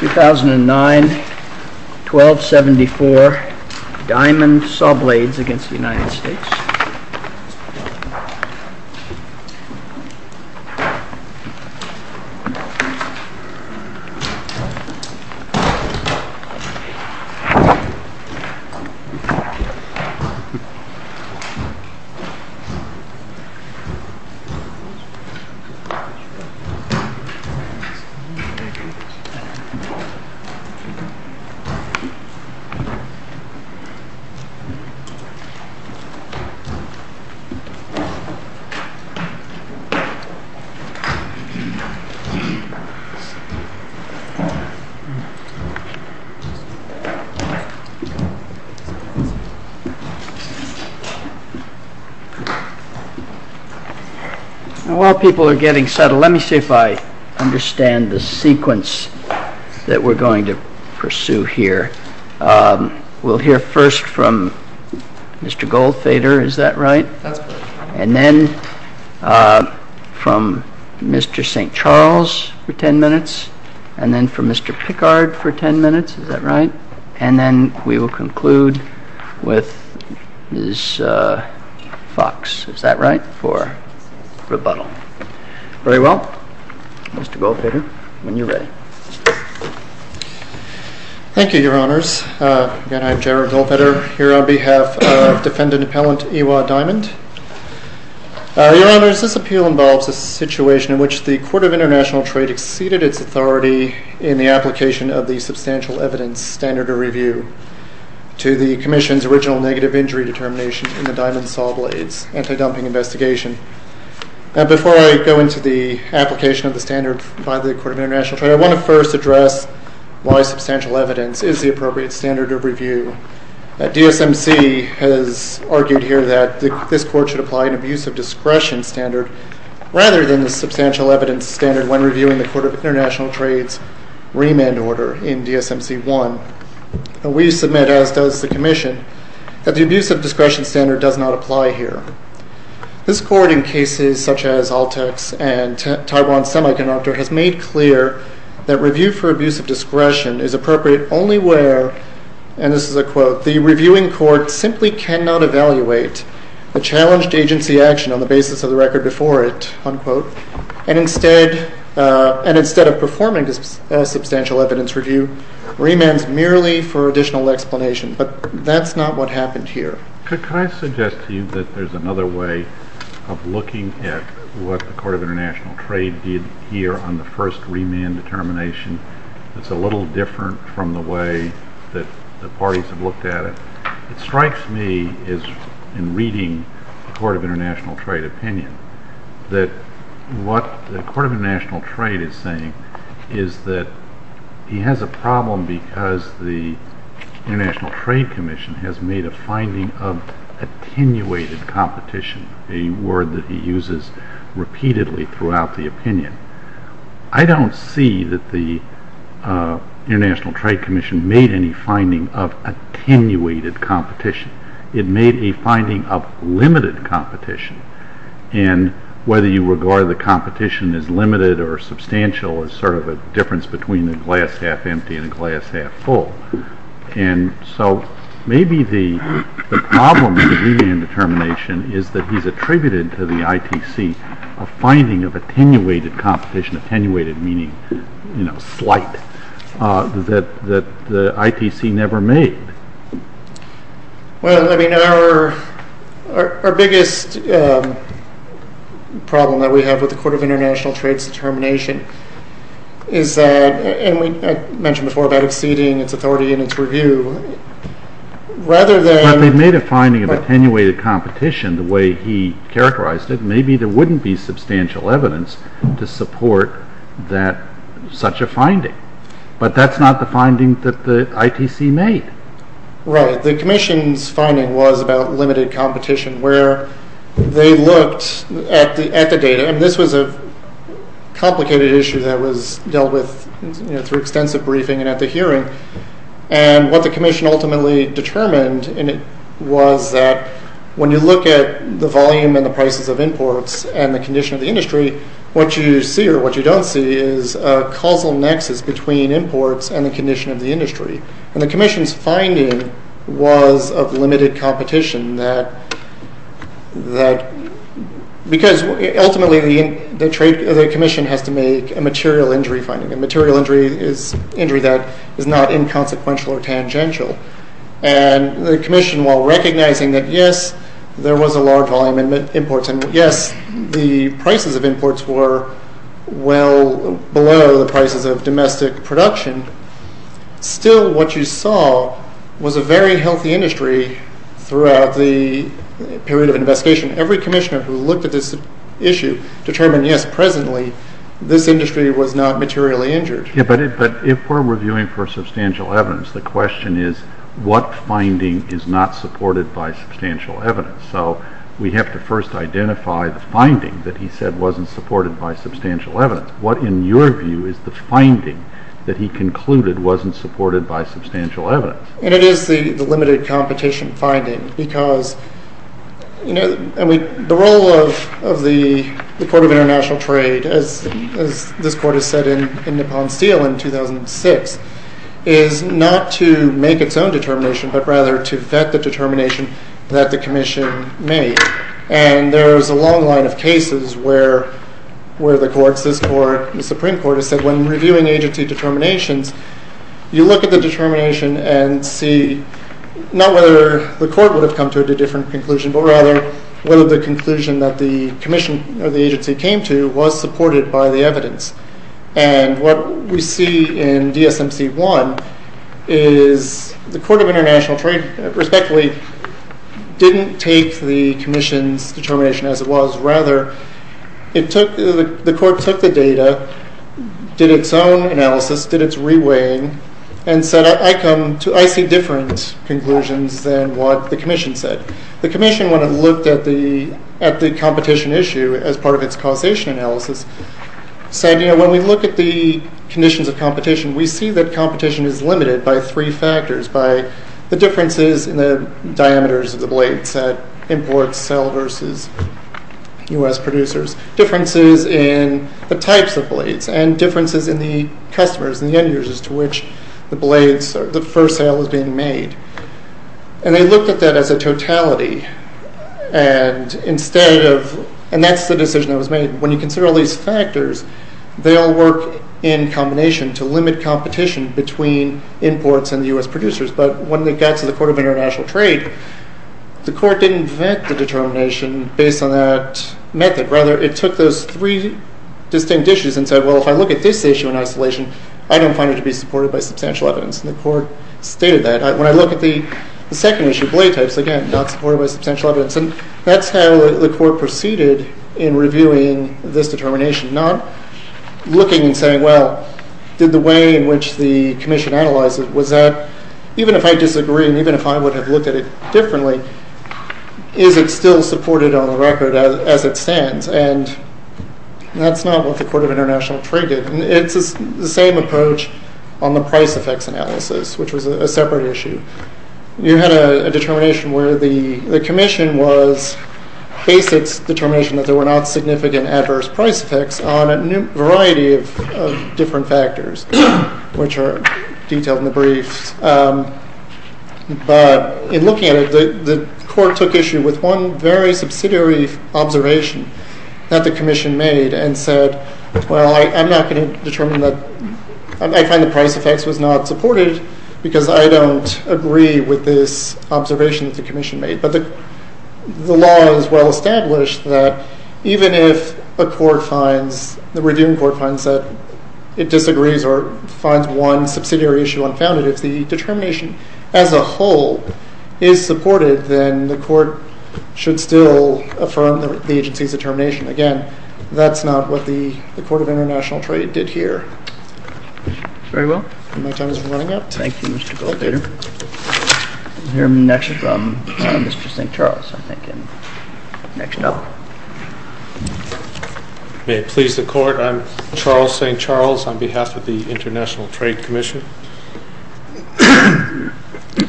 2009 1274 Diamond Sawblades v. United States 2009 1274 Diamond Sawblades v We're going to pursue here. We'll hear first from Mr. Goldfeder, is that right? That's correct. And then from Mr. St. Charles for ten minutes, and then from Mr. Pickard for ten minutes, is that right? And then we will conclude with Ms. Fox, is that right, for rebuttal. Very well. Mr. Goldfeder, when you're ready. Thank you, Your Honors. Again, I'm Jared Goldfeder, here on behalf of Defendant Appellant Iwa Diamond. Your Honors, this appeal involves a situation in which the Court of International Trade exceeded its authority in the application of the substantial evidence standard of review to the Commission's original negative injury determination in the Diamond Sawblades anti-dumping investigation. Now, before I go into the application of the standard by the Court of International Trade, I want to first address why substantial evidence is the appropriate standard of review. DSMC has argued here that this Court should apply an abuse of discretion standard, rather than the substantial evidence standard when reviewing the Court of International Trade's remand order in DSMC 1. We submit, as does the Commission, that the abuse of discretion standard does not apply here. This Court, in cases such as Altex and Taiwan Semiconductor, has made clear that review for abuse of discretion is appropriate only where, and this is a quote, the reviewing court simply cannot evaluate the challenged agency action on the basis of the record before it, unquote, and instead of performing a substantial evidence review, remands merely for additional explanation. But that's not what happened here. Could I suggest to you that there's another way of looking at what the Court of International Trade did here on the first remand determination that's a little different from the way that the parties have looked at it? It strikes me, in reading the Court of International Trade opinion, that what the Court of International Trade is saying is that he has a problem because the International Trade Commission has made a finding of attenuated competition, a word that he uses repeatedly throughout the opinion. I don't see that the International Trade Commission made any finding of attenuated competition. It made a finding of limited competition, and whether you regard the competition as limited or substantial is sort of a difference between a glass half empty and a glass half full. And so maybe the problem with the remand determination is that he's attributed to the ITC a finding of attenuated competition, attenuated meaning slight, that the ITC never made. Well, I mean, our biggest problem that we have with the Court of International Trade's determination is that, and I mentioned before about exceeding its authority and its review, rather than... Well, they've made a finding of attenuated competition the way he characterized it. Maybe there wouldn't be substantial evidence to support such a finding. But that's not the finding that the ITC made. Right. The Commission's finding was about limited competition where they looked at the data, and this was a complicated issue that was dealt with through extensive briefing and at the hearing, and what the Commission ultimately determined was that when you look at the volume and the prices of imports and the condition of the industry, what you see or what you don't see is a causal nexus between imports and the condition of the industry. And the Commission's finding was of limited competition because ultimately the Commission has to make a material injury finding, and material injury is injury that is not inconsequential or tangential. And the Commission, while recognizing that, yes, there was a large volume in imports and, yes, the prices of imports were well below the prices of domestic production, still what you saw was a very healthy industry throughout the period of investigation. Every Commissioner who looked at this issue determined, yes, presently this industry was not materially injured. Yeah, but if we're reviewing for substantial evidence, the question is, what finding is not supported by substantial evidence? So we have to first identify the finding that he said wasn't supported by substantial evidence. What, in your view, is the finding that he concluded wasn't supported by substantial evidence? And it is the limited competition finding because the role of the Court of International Trade, as this Court has said in Nippon-Steele in 2006, is not to make its own determination but rather to vet the determination that the Commission made. And there is a long line of cases where the Courts, this Court, the Supreme Court, has said when reviewing agency determinations, you look at the determination and see, not whether the Court would have come to a different conclusion, but rather whether the conclusion that the Commission or the agency came to was supported by the evidence. And what we see in DSMC 1 is the Court of International Trade, respectfully, didn't take the Commission's determination as it was. Rather, the Court took the data, did its own analysis, did its re-weighing, and said, I see different conclusions than what the Commission said. The Commission, when it looked at the competition issue as part of its causation analysis, said, you know, when we look at the conditions of competition, we see that competition is limited by three factors, by the differences in the diameters of the blades that imports sell versus U.S. producers, differences in the types of blades, and differences in the customers and the end-users to which the blades, the first sale is being made. And they looked at that as a totality, and instead of, and that's the decision that was made. And when you consider all these factors, they all work in combination to limit competition between imports and the U.S. producers. But when they got to the Court of International Trade, the Court didn't vet the determination based on that method. Rather, it took those three distinct issues and said, well, if I look at this issue in isolation, I don't find it to be supported by substantial evidence. And the Court stated that. When I look at the second issue, blade types, again, not supported by substantial evidence. And that's how the Court proceeded in reviewing this determination, not looking and saying, well, did the way in which the Commission analyzed it, was that even if I disagree and even if I would have looked at it differently, is it still supported on the record as it stands? And that's not what the Court of International Trade did. It's the same approach on the price effects analysis, which was a separate issue. You had a determination where the Commission was based its determination that there were not significant adverse price effects on a variety of different factors, which are detailed in the briefs. But in looking at it, the Court took issue with one very subsidiary observation that the Commission made and said, well, I'm not going to determine that. I find the price effects was not supported because I don't agree with this observation that the Commission made. But the law is well established that even if a court finds, the reviewing court finds that it disagrees or finds one subsidiary issue unfounded, if the determination as a whole is supported, then the Court should still affirm the agency's determination. Again, that's not what the Court of International Trade did here. Very well. My time is running out. Thank you, Mr. Goldater. We'll hear next from Mr. St. Charles, I think, next up. May it please the Court. I'm Charles St. Charles on behalf of the International Trade Commission.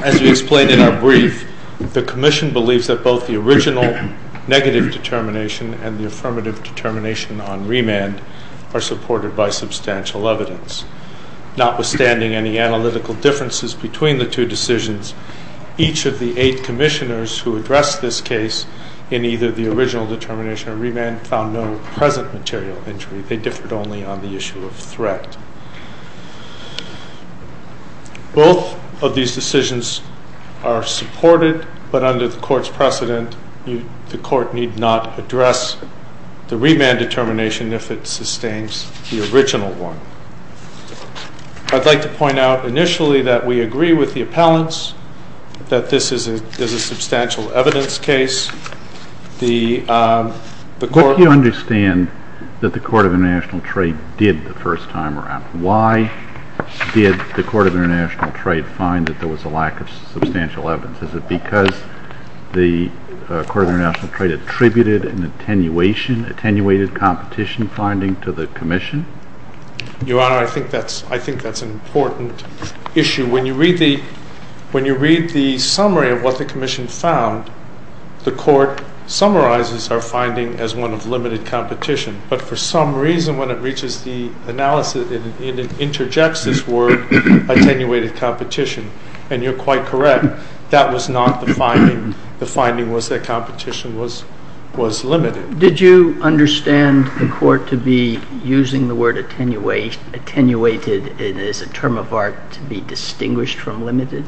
As we explained in our brief, the Commission believes that both the original negative determination and the affirmative determination on remand are supported by substantial evidence. Notwithstanding any analytical differences between the two decisions, each of the eight commissioners who addressed this case in either the original determination or remand found no present material injury. They differed only on the issue of threat. Both of these decisions are supported, but under the Court's precedent, the Court need not address the remand determination if it sustains the original one. I'd like to point out initially that we agree with the appellants, that this is a substantial evidence case. What do you understand that the Court of International Trade did the first time around? Why did the Court of International Trade find that there was a lack of substantial evidence? Is it because the Court of International Trade attributed an attenuation, attenuated competition finding to the Commission? Your Honor, I think that's an important issue. When you read the summary of what the Commission found, the Court summarizes our finding as one of limited competition, but for some reason when it reaches the analysis, it interjects this word, attenuated competition, and you're quite correct. That was not the finding. The finding was that competition was limited. Did you understand the Court to be using the word attenuated as a term of art to be distinguished from limited?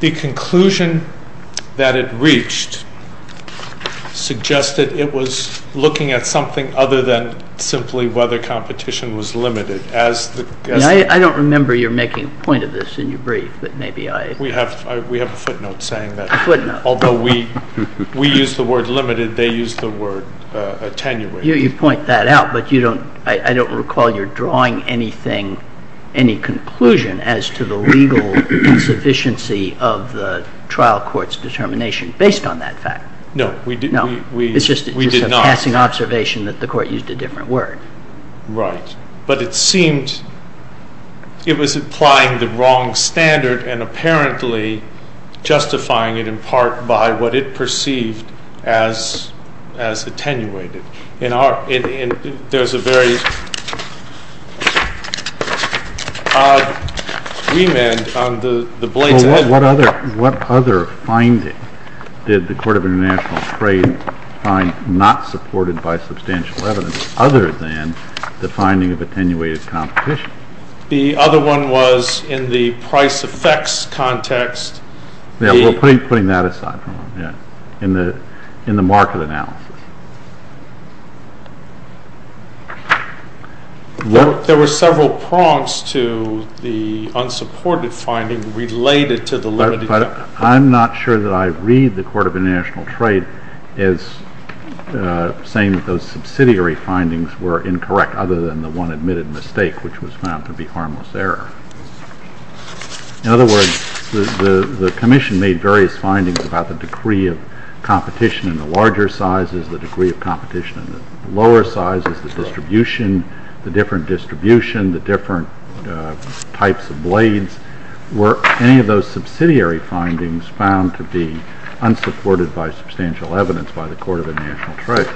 The conclusion that it reached suggested it was looking at something other than simply whether competition was limited. I don't remember you making a point of this in your brief. We have a footnote saying that. Although we use the word limited, they use the word attenuated. You point that out, but I don't recall you drawing any conclusion as to the legal insufficiency of the trial court's determination based on that fact. No, we did not. It's just a passing observation that the court used a different word. Right. But it seemed it was applying the wrong standard and apparently justifying it in part by what it perceived as attenuated. There's a very odd remand on the blade's edge. What other finding did the Court of International Trade find that was not supported by substantial evidence other than the finding of attenuated competition? The other one was in the price effects context. We're putting that aside for now. In the market analysis. There were several prompts to the unsupported finding related to the limited. But I'm not sure that I read the Court of International Trade as saying that those subsidiary findings were incorrect other than the one admitted mistake, which was found to be harmless error. In other words, the Commission made various findings about the degree of competition in the larger sizes, the degree of competition in the lower sizes, the distribution, the different distribution, the different types of blades. Were any of those subsidiary findings found to be unsupported by substantial evidence by the Court of International Trade?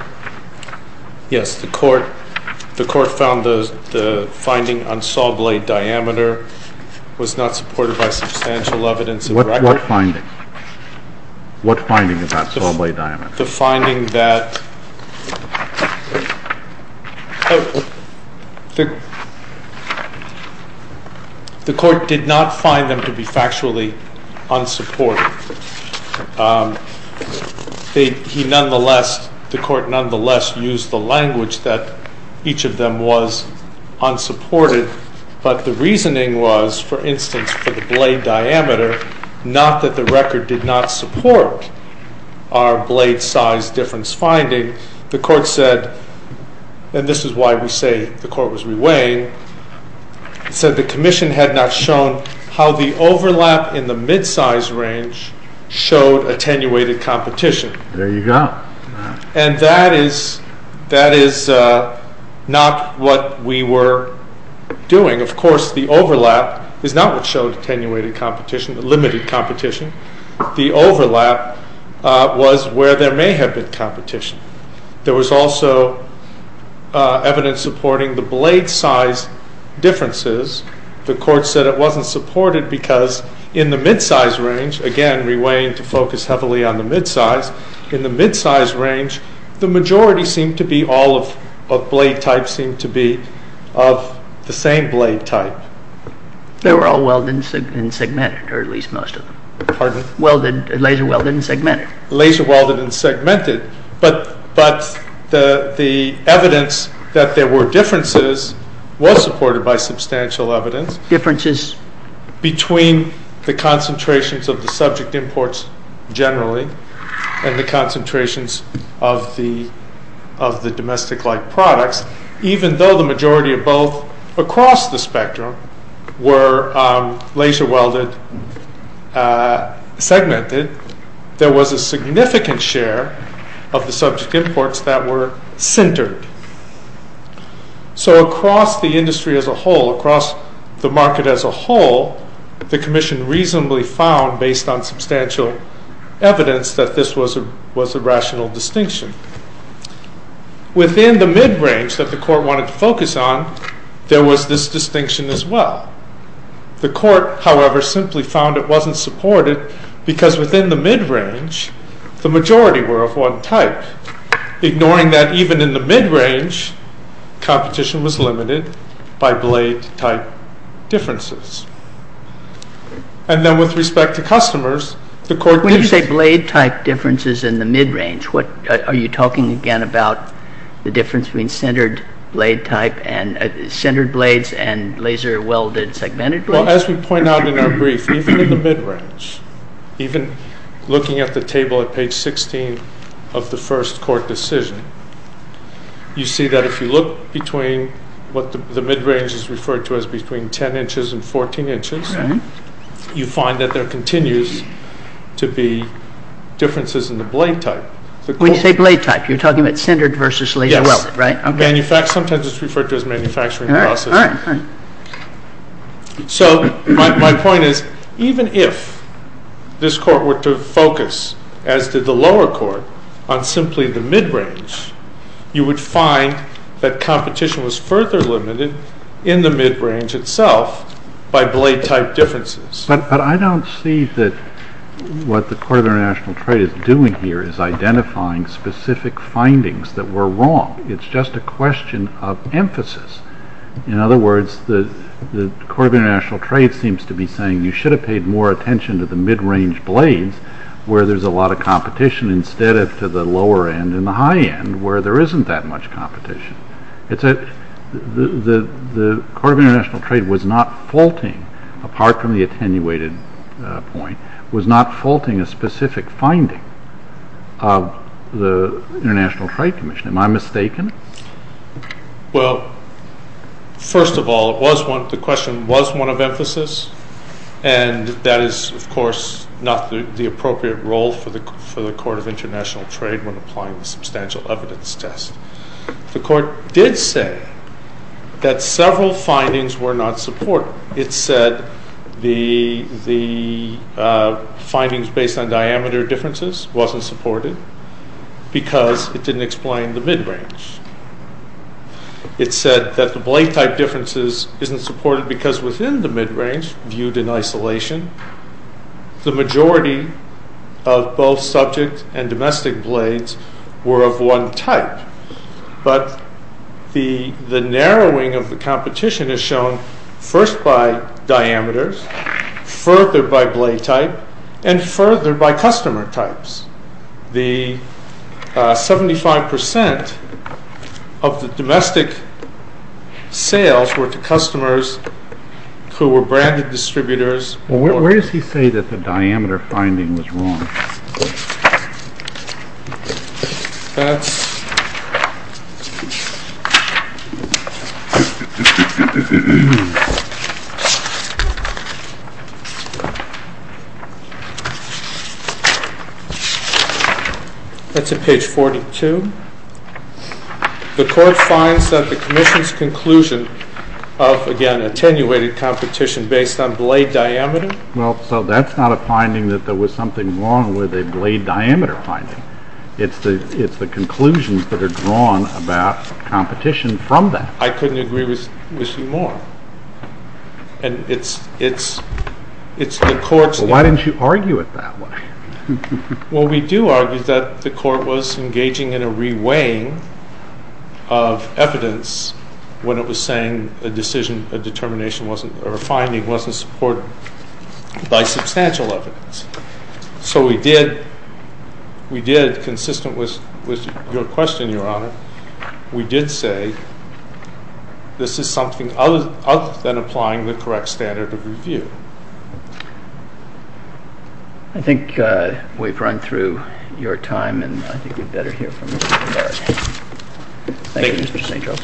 Yes. The Court found the finding on saw blade diameter was not supported by substantial evidence. What finding? What finding about saw blade diameter? The finding that the Court did not find them to be factually unsupported. The Court nonetheless used the language that each of them was unsupported. But the reasoning was, for instance, for the blade diameter, not that the record did not support our blade size difference finding. The Court said, and this is why we say the Court was reweighing, said the Commission had not shown how the overlap in the midsize range showed attenuated competition. There you go. And that is not what we were doing. Of course the overlap is not what showed attenuated competition. It limited competition. The overlap was where there may have been competition. There was also evidence supporting the blade size differences. The Court said it was not supported because in the midsize range, again reweighing to focus heavily on the midsize, in the midsize range the majority seemed to be all of blade types, seemed to be of the same blade type. They were all welded and segmented, or at least most of them. Pardon? Laser-welded and segmented. Laser-welded and segmented. But the evidence that there were differences was supported by substantial evidence. Differences? Between the concentrations of the subject imports generally and the concentrations of the domestic-like products, even though the majority of both across the spectrum were laser-welded, segmented, there was a significant share of the subject imports that were centered. So across the industry as a whole, across the market as a whole, the Commission reasonably found, based on substantial evidence, that this was a rational distinction. Within the midrange that the Court wanted to focus on, there was this distinction as well. The Court, however, simply found it wasn't supported because within the midrange the majority were of one type, ignoring that even in the midrange competition was limited by blade type differences. And then with respect to customers, the Court did... Are you talking again about the difference between centered blade type and centered blades and laser-welded segmented blades? Well, as we point out in our brief, even in the midrange, even looking at the table at page 16 of the first Court decision, you see that if you look between what the midrange is referred to as between 10 inches and 14 inches, you find that there continues to be differences in the blade type. When you say blade type, you're talking about centered versus laser-welded, right? Yes. Sometimes it's referred to as manufacturing process. So my point is, even if this Court were to focus, as did the lower Court, on simply the midrange, you would find that competition was further limited in the midrange itself by blade type differences. But I don't see that what the Court of International Trade is doing here is identifying specific findings that were wrong. It's just a question of emphasis. In other words, the Court of International Trade seems to be saying you should have paid more attention to the midrange blades where there's a lot of competition instead of to the lower end and the high end where there isn't that much competition. The Court of International Trade was not faulting, apart from the attenuated point, was not faulting a specific finding of the International Trade Commission. Am I mistaken? Well, first of all, the question was one of emphasis, and that is, of course, not the appropriate role for the Court of International Trade when applying the substantial evidence test. The Court did say that several findings were not supported. It said the findings based on diameter differences wasn't supported because it didn't explain the midrange. It said that the blade type differences isn't supported because within the midrange, viewed in isolation, the majority of both subject and domestic blades were of one type. But the narrowing of the competition is shown first by diameters, further by blade type, and further by customer types. The 75% of the domestic sales were to customers who were branded distributors. Well, where does he say that the diameter finding was wrong? That's at page 42. The Court finds that the Commission's conclusion of, again, based on blade diameter. Well, so that's not a finding that there was something wrong with a blade diameter finding. It's the conclusions that are drawn about competition from that. I couldn't agree with you more. And it's the Court's... Well, why didn't you argue it that way? Well, we do argue that the Court was engaging in a re-weighing of evidence when it was saying a decision, a determination wasn't, or a finding wasn't supported by substantial evidence. So we did, consistent with your question, Your Honor, we did say this is something other than applying the correct standard of review. I think we've run through your time, and I think we'd better hear from Mr. St. Charles. Thank you, Mr. St. Charles.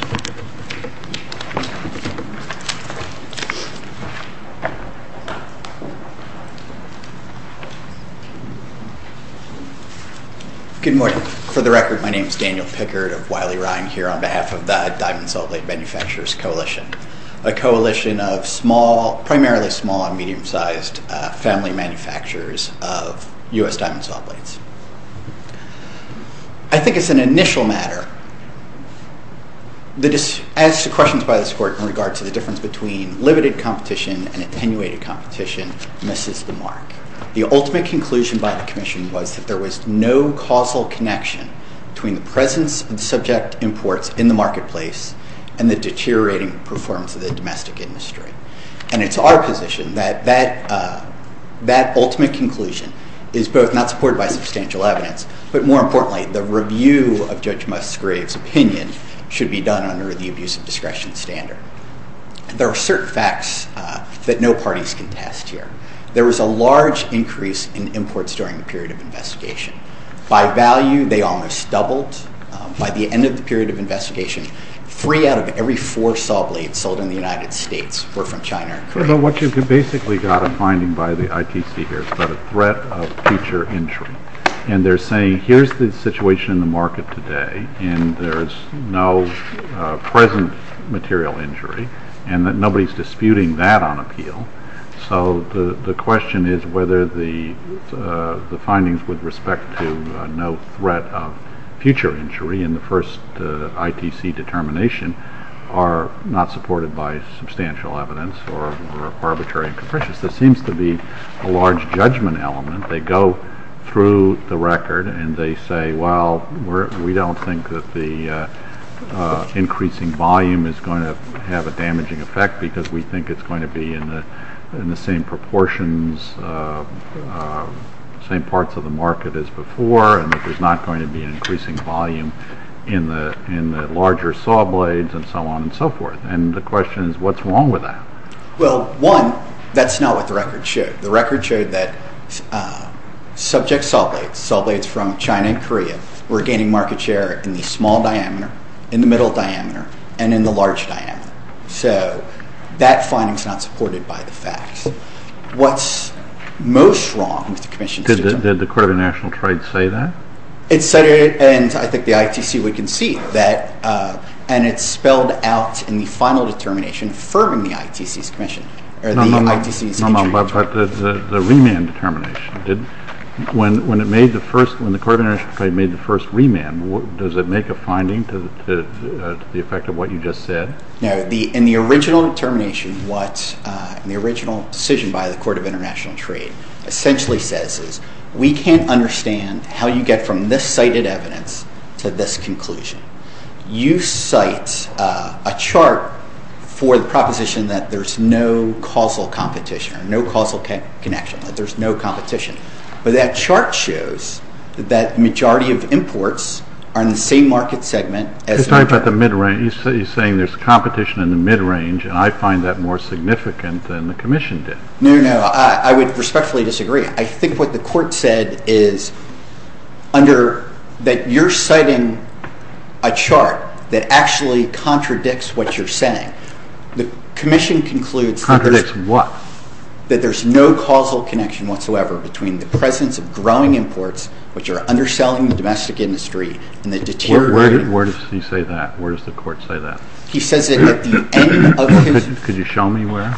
Good morning. For the record, my name is Daniel Pickard of Wiley Rhine, here on behalf of the Diamond Saw Blade Manufacturers Coalition, a coalition of primarily small and medium-sized family manufacturers of U.S. diamond saw blades. I think as an initial matter, as to questions by this Court in regard to the difference between limited competition and attenuated competition misses the mark. The ultimate conclusion by the Commission was that there was no causal connection between the presence of the subject imports in the marketplace and the deteriorating performance of the domestic industry. And it's our position that that ultimate conclusion is both not supported by substantial evidence, but more importantly, the review of Judge Musgrave's opinion should be done under the abuse of discretion standard. There are certain facts that no parties can test here. There was a large increase in imports during the period of investigation. By value, they almost doubled. By the end of the period of investigation, three out of every four saw blades sold in the United States were from China or Korea. But what you basically got a finding by the ITC here is about a threat of future injury. And they're saying, here's the situation in the market today, and there's no present material injury, and that nobody's disputing that on appeal. So the question is whether the findings with respect to no threat of future injury in the first ITC determination are not supported by substantial evidence or are arbitrary and capricious. There seems to be a large judgment element. They go through the record, and they say, well, we don't think that the increasing volume is going to have a damaging effect because we think it's going to be in the same proportions, same parts of the market as before, and that there's not going to be an increasing volume in the larger saw blades and so on and so forth. And the question is, what's wrong with that? Well, one, that's not what the record showed. The record showed that subject saw blades, saw blades from China and Korea, were gaining market share in the small diameter, in the middle diameter, and in the large diameter. So that finding is not supported by the facts. What's most wrong with the Commission's statement? Did the Court of International Trade say that? It said it, and I think the ITC would concede that, and it's spelled out in the final determination affirming the ITC's commission or the ITC's injury determination. But the remand determination, when the Court of International Trade made the first remand, does it make a finding to the effect of what you just said? No. In the original determination, what the original decision by the Court of International Trade essentially says is, we can't understand how you get from this cited evidence to this conclusion. You cite a chart for the proposition that there's no causal competition, no causal connection, that there's no competition. But that chart shows that the majority of imports are in the same market segment. You're saying there's competition in the mid-range, and I find that more significant than the Commission did. No, no, I would respectfully disagree. I think what the Court said is that you're citing a chart that actually contradicts what you're saying. The Commission concludes that there's no causal connection whatsoever between the presence of growing imports, which are underselling the domestic industry, and the deteriorating— Where does he say that? Where does the Court say that? He says it at the end of his— Could you show me where?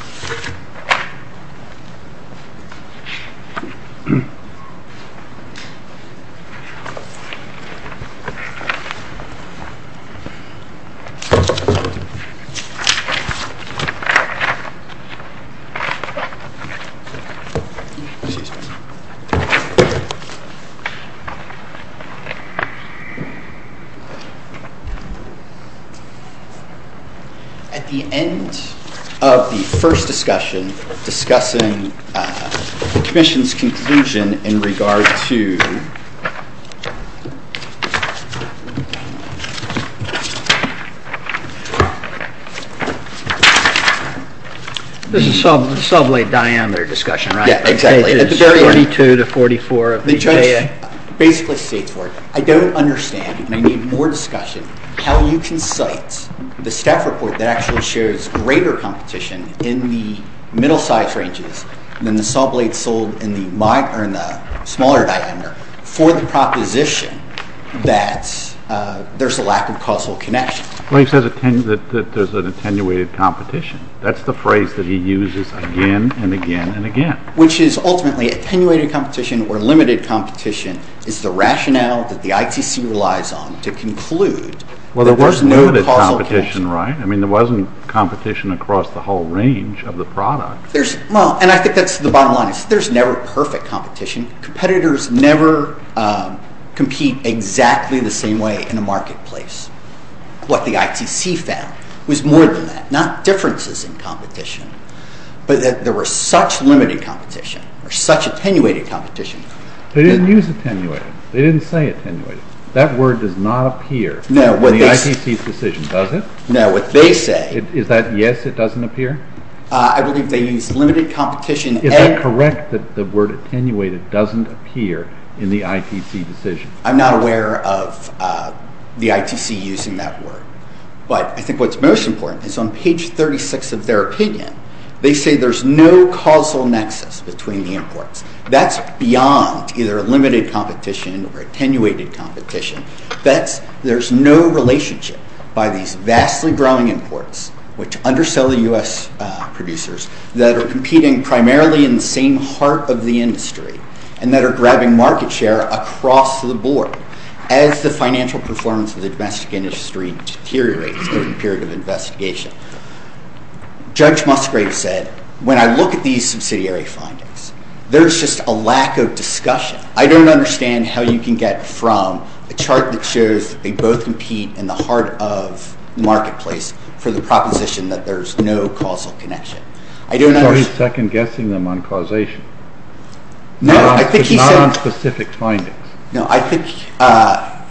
At the end of the first discussion discussing the Commission's conclusion in regard to— This is the sublate diameter discussion, right? Yeah, exactly. The judge basically states for it, I don't understand, and I need more discussion, how you can cite the staff report that actually shows greater competition in the middle-sized ranges than the sublates sold in the smaller diameter for the proposition that there's a lack of causal connection. But he says that there's an attenuated competition. That's the phrase that he uses again and again and again. Which is ultimately attenuated competition or limited competition is the rationale that the ITC relies on to conclude— Well, there was limited competition, right? I mean, there wasn't competition across the whole range of the product. Well, and I think that's the bottom line. There's never perfect competition. Competitors never compete exactly the same way in a marketplace. What the ITC found was more than that, not differences in competition, but that there was such limited competition or such attenuated competition. They didn't use attenuated. They didn't say attenuated. That word does not appear in the ITC's decision, does it? No, what they say— Is that yes, it doesn't appear? I believe they used limited competition and— Is that correct that the word attenuated doesn't appear in the ITC decision? I'm not aware of the ITC using that word. But I think what's most important is on page 36 of their opinion, they say there's no causal nexus between the imports. That's beyond either limited competition or attenuated competition. There's no relationship by these vastly growing imports, which undersell the U.S. producers, that are competing primarily in the same heart of the industry and that are grabbing market share across the board as the financial performance of the domestic industry deteriorates over the period of investigation. Judge Musgrave said, when I look at these subsidiary findings, there's just a lack of discussion. I don't understand how you can get from a chart that shows they both compete in the heart of the marketplace for the proposition that there's no causal connection. So he's second-guessing them on causation. No, I think he said— But not on specific findings. No, I think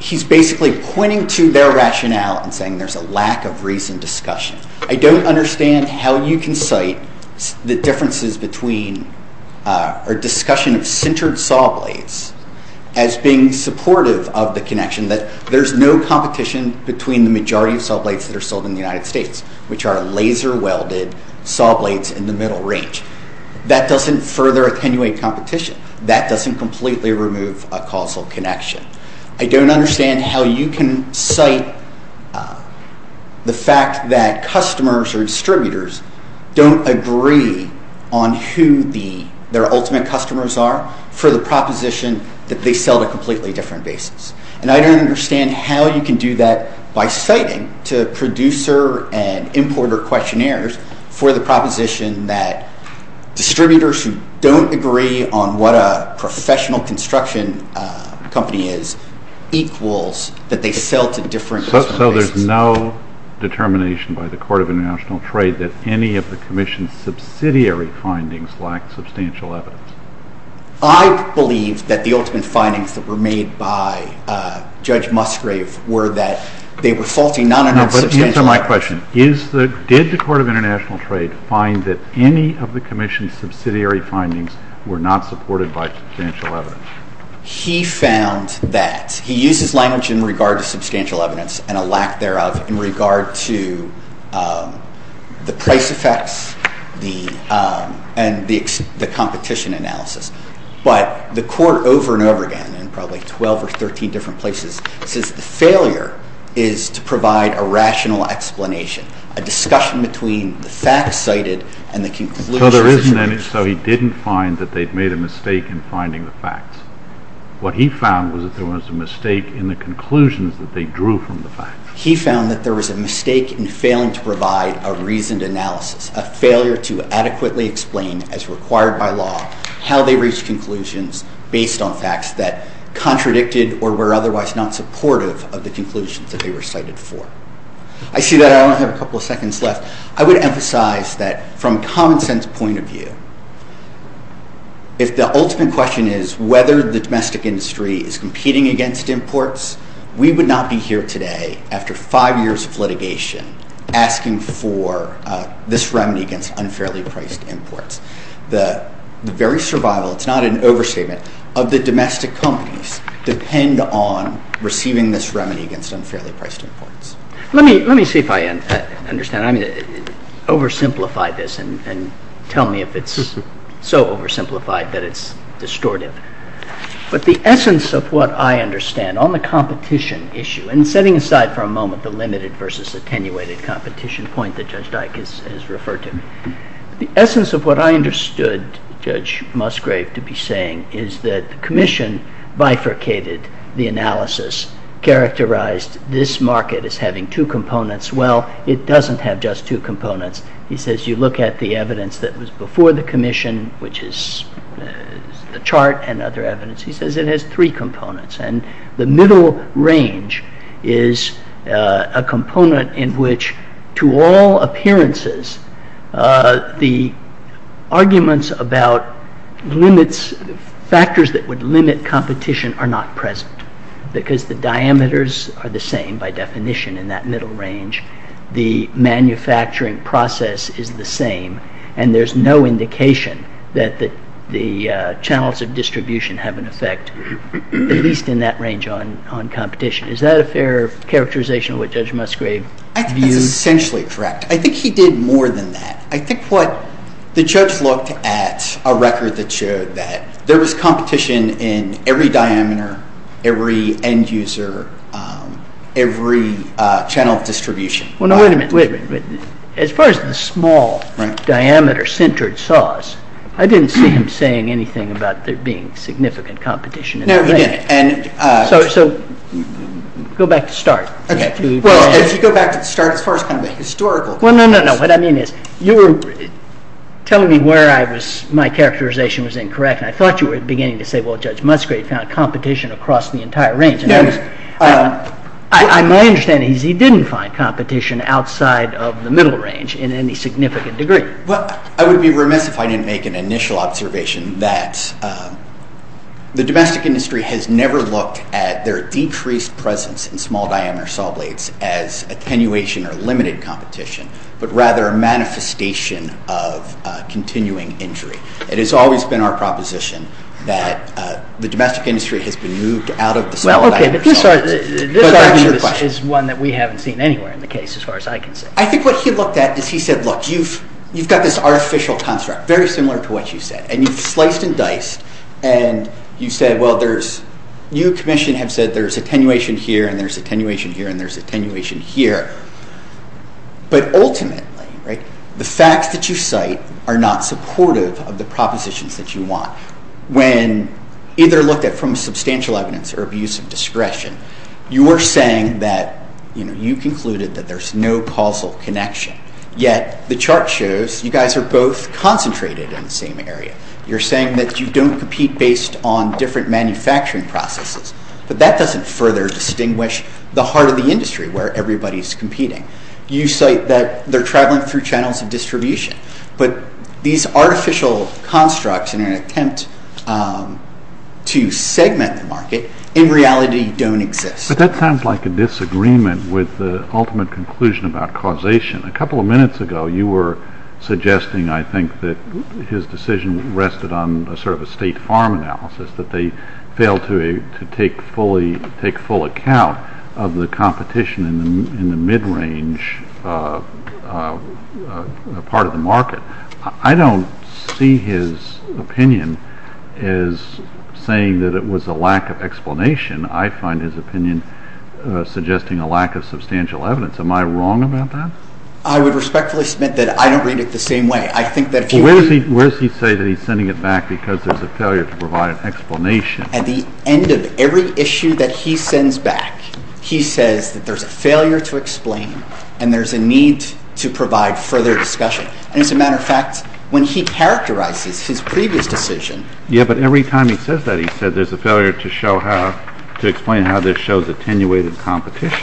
he's basically pointing to their rationale and saying there's a lack of reasoned discussion. I don't understand how you can cite the differences between—or discussion of centered saw blades as being supportive of the connection that there's no competition between the majority of saw blades that are sold in the United States, which are laser-welded saw blades in the middle range. That doesn't further attenuate competition. That doesn't completely remove a causal connection. I don't understand how you can cite the fact that customers or distributors don't agree on who their ultimate customers are for the proposition that they sell to completely different bases. And I don't understand how you can do that by citing to producer and importer questionnaires for the proposition that distributors who don't agree on what a professional construction company is equals that they sell to different— So there's no determination by the Court of International Trade that any of the Commission's subsidiary findings lack substantial evidence. I believe that the ultimate findings that were made by Judge Musgrave Answer my question. Did the Court of International Trade find that any of the Commission's subsidiary findings were not supported by substantial evidence? He found that—he used his language in regard to substantial evidence and a lack thereof in regard to the price effects and the competition analysis. But the Court over and over again, in probably 12 or 13 different places, says the failure is to provide a rational explanation, a discussion between the facts cited and the conclusions— So there isn't any—so he didn't find that they'd made a mistake in finding the facts. What he found was that there was a mistake in the conclusions that they drew from the facts. He found that there was a mistake in failing to provide a reasoned analysis, a failure to adequately explain, as required by law, how they reached conclusions based on facts that contradicted or were otherwise not supportive of the conclusions that they were cited for. I see that I only have a couple of seconds left. I would emphasize that from a common-sense point of view, if the ultimate question is whether the domestic industry is competing against imports, we would not be here today, after five years of litigation, asking for this remedy against unfairly priced imports. The very survival—it's not an overstatement—of the domestic companies depend on receiving this remedy against unfairly priced imports. Let me see if I understand. Oversimplify this and tell me if it's so oversimplified that it's distortive. But the essence of what I understand on the competition issue— and setting aside for a moment the limited versus attenuated competition point that Judge Dyck has referred to— the essence of what I understood Judge Musgrave to be saying is that the Commission bifurcated the analysis, characterized this market as having two components. Well, it doesn't have just two components. He says you look at the evidence that was before the Commission, which is the chart and other evidence. He says it has three components. And the middle range is a component in which, to all appearances, the arguments about factors that would limit competition are not present because the diameters are the same, by definition, in that middle range. The manufacturing process is the same, and there's no indication that the channels of distribution have an effect. At least in that range on competition. Is that a fair characterization of what Judge Musgrave views? I think that's essentially correct. I think he did more than that. I think what—the judge looked at a record that showed that there was competition in every diameter, every end user, every channel of distribution. Well, now, wait a minute. As far as the small diameter-centered saws, I didn't see him saying anything about there being significant competition in that range. No, he didn't. So go back to start. Well, if you go back to start, as far as kind of a historical— No, no, no. What I mean is you were telling me where my characterization was incorrect, and I thought you were beginning to say, well, Judge Musgrave found competition across the entire range. My understanding is he didn't find competition outside of the middle range in any significant degree. Well, I would be remiss if I didn't make an initial observation that the domestic industry has never looked at their decreased presence in small diameter saw blades as attenuation or limited competition, but rather a manifestation of continuing injury. It has always been our proposition that the domestic industry has been moved out of the small diameter saw blades. Well, okay, but this argument is one that we haven't seen anywhere in the case, as far as I can see. I think what he looked at is he said, look, you've got this artificial construct, very similar to what you said, and you've sliced and diced, and you said, well, there's— you, commission, have said there's attenuation here, and there's attenuation here, and there's attenuation here. But ultimately, the facts that you cite are not supportive of the propositions that you want. You're saying that, you know, you concluded that there's no causal connection, yet the chart shows you guys are both concentrated in the same area. You're saying that you don't compete based on different manufacturing processes, but that doesn't further distinguish the heart of the industry, where everybody's competing. You cite that they're traveling through channels of distribution, but these artificial constructs in an attempt to segment the market, in reality, don't exist. But that sounds like a disagreement with the ultimate conclusion about causation. A couple of minutes ago, you were suggesting, I think, that his decision rested on sort of a state farm analysis, that they failed to take full account of the competition in the mid-range part of the market. I don't see his opinion as saying that it was a lack of explanation. I find his opinion suggesting a lack of substantial evidence. Am I wrong about that? I would respectfully submit that I don't read it the same way. I think that if you read— Well, where does he say that he's sending it back because there's a failure to provide an explanation? At the end of every issue that he sends back, he says that there's a failure to explain and there's a need to provide further discussion. As a matter of fact, when he characterizes his previous decision— Yeah, but every time he says that, he says there's a failure to show how— to explain how this shows attenuated competition.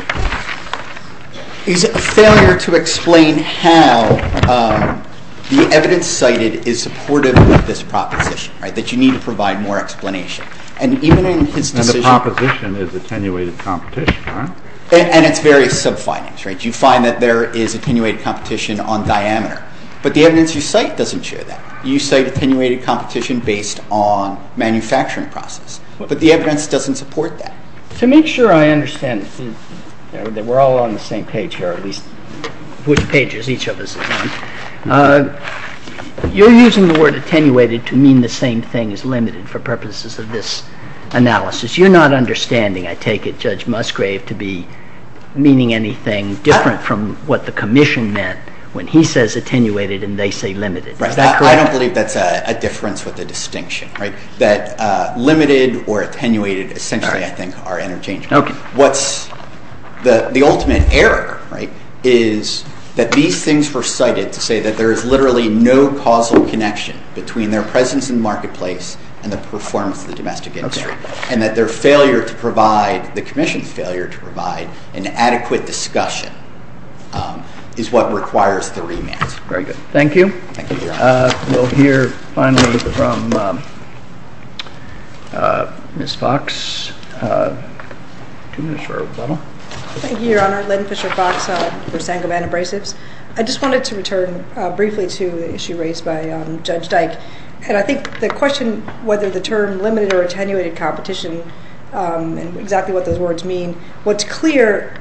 He's a failure to explain how the evidence cited is supportive of this proposition, right, that you need to provide more explanation. And even in his decision— And the proposition is attenuated competition, right? And it's various sub-findings, right? You find that there is attenuated competition on diameter, but the evidence you cite doesn't show that. You cite attenuated competition based on manufacturing process, but the evidence doesn't support that. To make sure I understand that we're all on the same page here, at least which pages each of us is on, you're using the word attenuated to mean the same thing as limited for purposes of this analysis. You're not understanding, I take it, Judge Musgrave, to be meaning anything different from what the commission meant when he says attenuated and they say limited. Is that correct? I don't believe that's a difference with a distinction, right, that limited or attenuated essentially, I think, are interchangeable. What's the ultimate error, right, is that these things were cited to say that there is literally no causal connection between their presence in the marketplace and the performance of the domestic industry and that their failure to provide, the commission's failure to provide, an adequate discussion is what requires the remand. Thank you, Your Honor. We'll hear finally from Ms. Fox. Thank you, Your Honor. Lynn Fisher-Fox for Sangamon Abrasives. I just wanted to return briefly to the issue raised by Judge Dyke, and I think the question whether the term limited or attenuated competition and exactly what those words mean, what's clear...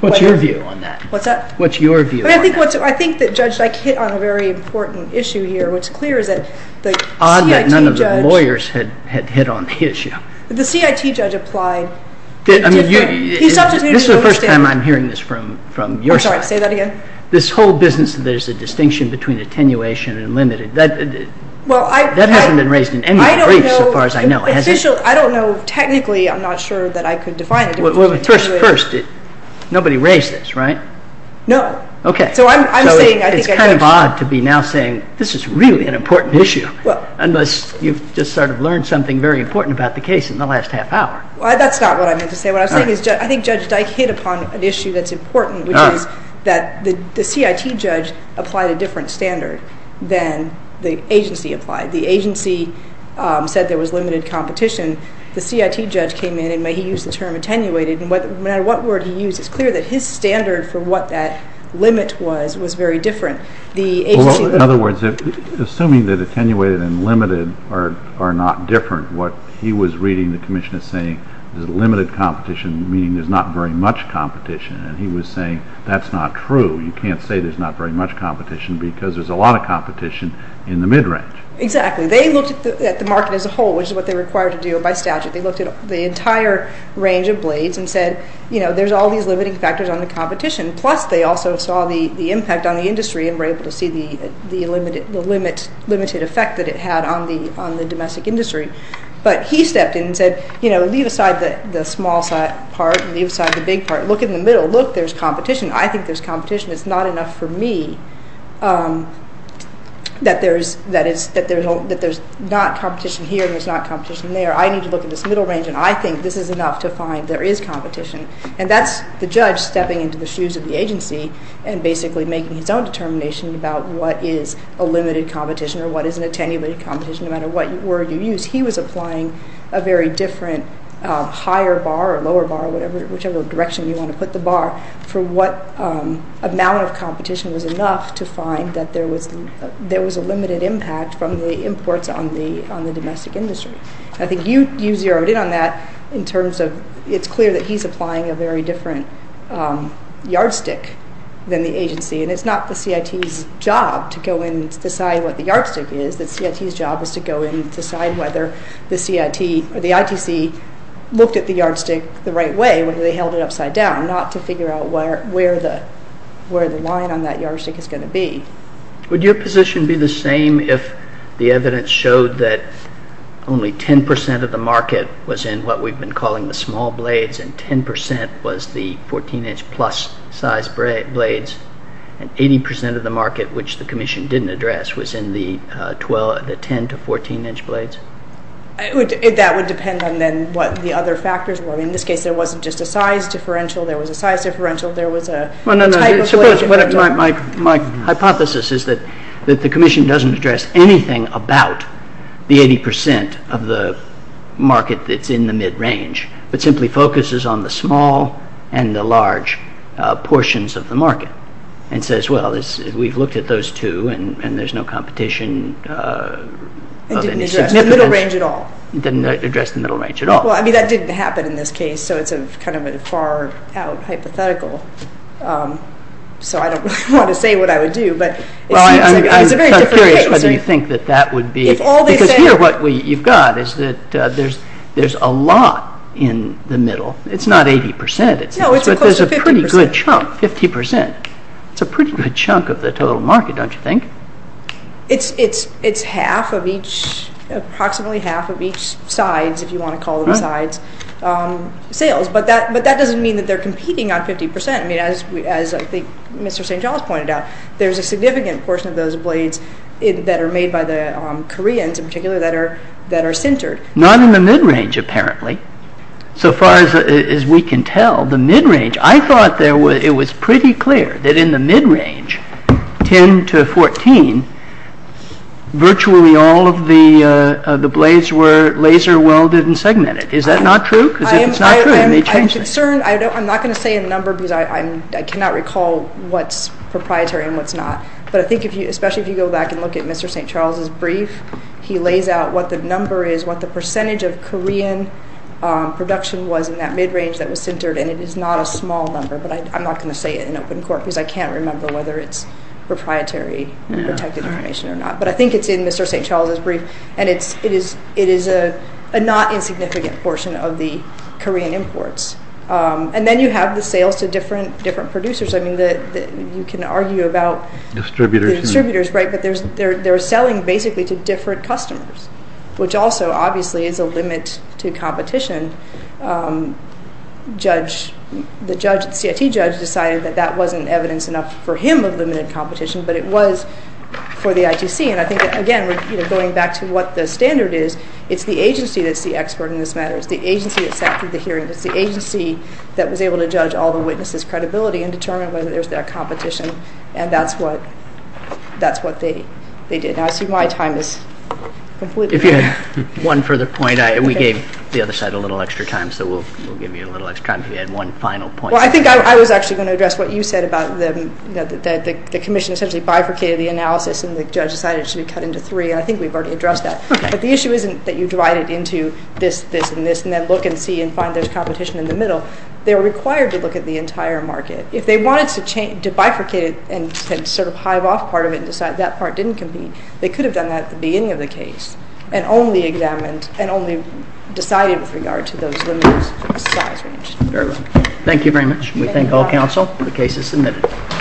What's your view on that? What's that? What's your view on that? I think that Judge Dyke hit on a very important issue here. What's clear is that the CIT judge... Odd that none of the lawyers had hit on the issue. The CIT judge applied... I mean, this is the first time I'm hearing this from your side. I'm sorry, say that again. This whole business that there's a distinction between attenuation and limited, that hasn't been raised in any brief so far as I know, has it? I don't know. Technically, I'm not sure that I could define it. First, nobody raised this, right? No. Okay. So I'm saying... It's kind of odd to be now saying this is really an important issue unless you've just sort of learned something very important about the case in the last half hour. That's not what I meant to say. What I'm saying is I think Judge Dyke hit upon an issue that's important, which is that the CIT judge applied a different standard than the agency applied. The agency said there was limited competition. The CIT judge came in and he used the term attenuated, and no matter what word he used, it's clear that his standard for what that limit was was very different. In other words, assuming that attenuated and limited are not different, what he was reading the commission as saying is limited competition, meaning there's not very much competition, and he was saying that's not true. You can't say there's not very much competition because there's a lot of competition in the mid-range. Exactly. They looked at the market as a whole, which is what they were required to do by statute. They looked at the entire range of blades and said there's all these limiting factors on the competition, plus they also saw the impact on the industry and were able to see the limited effect that it had on the domestic industry. But he stepped in and said leave aside the small part and leave aside the big part. Look in the middle. Look, there's competition. I think there's competition. It's not enough for me that there's not competition here and there's not competition there. I need to look at this middle range, and I think this is enough to find there is competition. And that's the judge stepping into the shoes of the agency and basically making his own determination about what is a limited competition or what is an attenuated competition, no matter what word you use. He was applying a very different higher bar or lower bar, whichever direction you want to put the bar, for what amount of competition was enough to find that there was a limited impact from the imports on the domestic industry. I think you zeroed in on that in terms of it's clear that he's applying a very different yardstick than the agency, and it's not the CIT's job to go in and decide what the yardstick is. The CIT's job is to go in and decide whether the CIT or the ITC looked at the yardstick the right way, whether they held it upside down, not to figure out where the line on that yardstick is going to be. Would your position be the same if the evidence showed that only 10% of the market was in what we've been calling the small blades, and 10% was the 14-inch plus size blades, and 80% of the market, which the Commission didn't address, was in the 10 to 14-inch blades? That would depend on then what the other factors were. In this case, there wasn't just a size differential. There was a size differential. There was a type of blade. My hypothesis is that the Commission doesn't address anything about the 80% of the market that's in the mid-range, but simply focuses on the small and the large portions of the market, and says, well, we've looked at those two, and there's no competition of any significance. It didn't address the middle range at all? It didn't address the middle range at all. Well, I mean, that didn't happen in this case, so it's kind of a far-out hypothetical. So I don't really want to say what I would do, but it's a very different case. Well, I'm curious whether you think that that would be, because here what you've got is that there's a lot in the middle. It's not 80%. No, it's close to 50%. But there's a pretty good chunk, 50%. It's a pretty good chunk of the total market, don't you think? It's half of each, approximately half of each sides, if you want to call them sides, sales. But that doesn't mean that they're competing on 50%. I mean, as I think Mr. St. John's pointed out, there's a significant portion of those blades that are made by the Koreans, in particular, that are centered. Not in the mid-range, apparently. So far as we can tell, the mid-range, I thought it was pretty clear that in the mid-range, 10 to 14, virtually all of the blades were laser-welded and segmented. Is that not true? Because if it's not true, you may change it. I'm concerned. I'm not going to say a number because I cannot recall what's proprietary and what's not. But I think, especially if you go back and look at Mr. St. Charles's brief, he lays out what the number is, what the percentage of Korean production was in that mid-range that was centered, and it is not a small number. But I'm not going to say it in open court because I can't remember whether it's proprietary protected information or not. But I think it's in Mr. St. Charles's brief, and it is a not insignificant portion of the Korean imports. And then you have the sales to different producers. I mean, you can argue about the distributors, right? They're selling basically to different customers, which also, obviously, is a limit to competition. The CIT judge decided that that wasn't evidence enough for him of limited competition, but it was for the ITC. And I think that, again, going back to what the standard is, it's the agency that's the expert in this matter. It's the agency that sat through the hearing. It's the agency that was able to judge all the witnesses' credibility and determine whether there's that competition, and that's what they did. Now, I see my time is completely up. If you had one further point, we gave the other side a little extra time, so we'll give you a little extra time if you had one final point. Well, I think I was actually going to address what you said about the commission essentially bifurcated the analysis and the judge decided it should be cut into three, and I think we've already addressed that. But the issue isn't that you divide it into this, this, and this, and then look and see and find there's competition in the middle. They're required to look at the entire market. If they wanted to bifurcate it and sort of hive off part of it and decide that part didn't compete, they could have done that at the beginning of the case and only examined and only decided with regard to those limits for the size range. Thank you very much. We thank all counsel. The case is submitted.